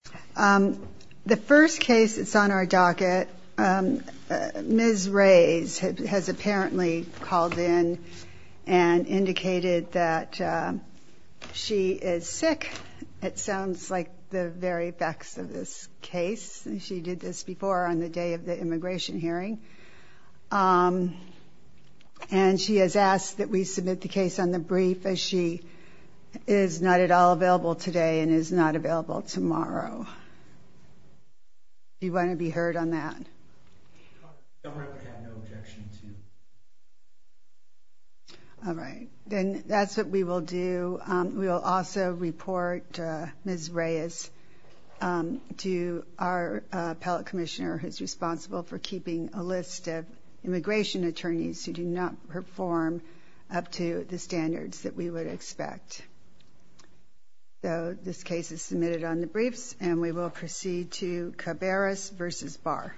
The first case that's on our docket, Ms. Reyes has apparently called in and indicated that she is sick. It sounds like the very effects of this case. She did this before on the day of the immigration hearing and she has asked that we submit the case on the brief as she is not at all available today and is not available tomorrow. Do you want to be heard on that? All right, then that's what we will do. We will also report Ms. Reyes to our appellate commissioner who's responsible for keeping a list of immigration attorneys who do not perform up to the standards that we would expect. Though this case is submitted on the briefs and we will proceed to Cabarrus v. Barr.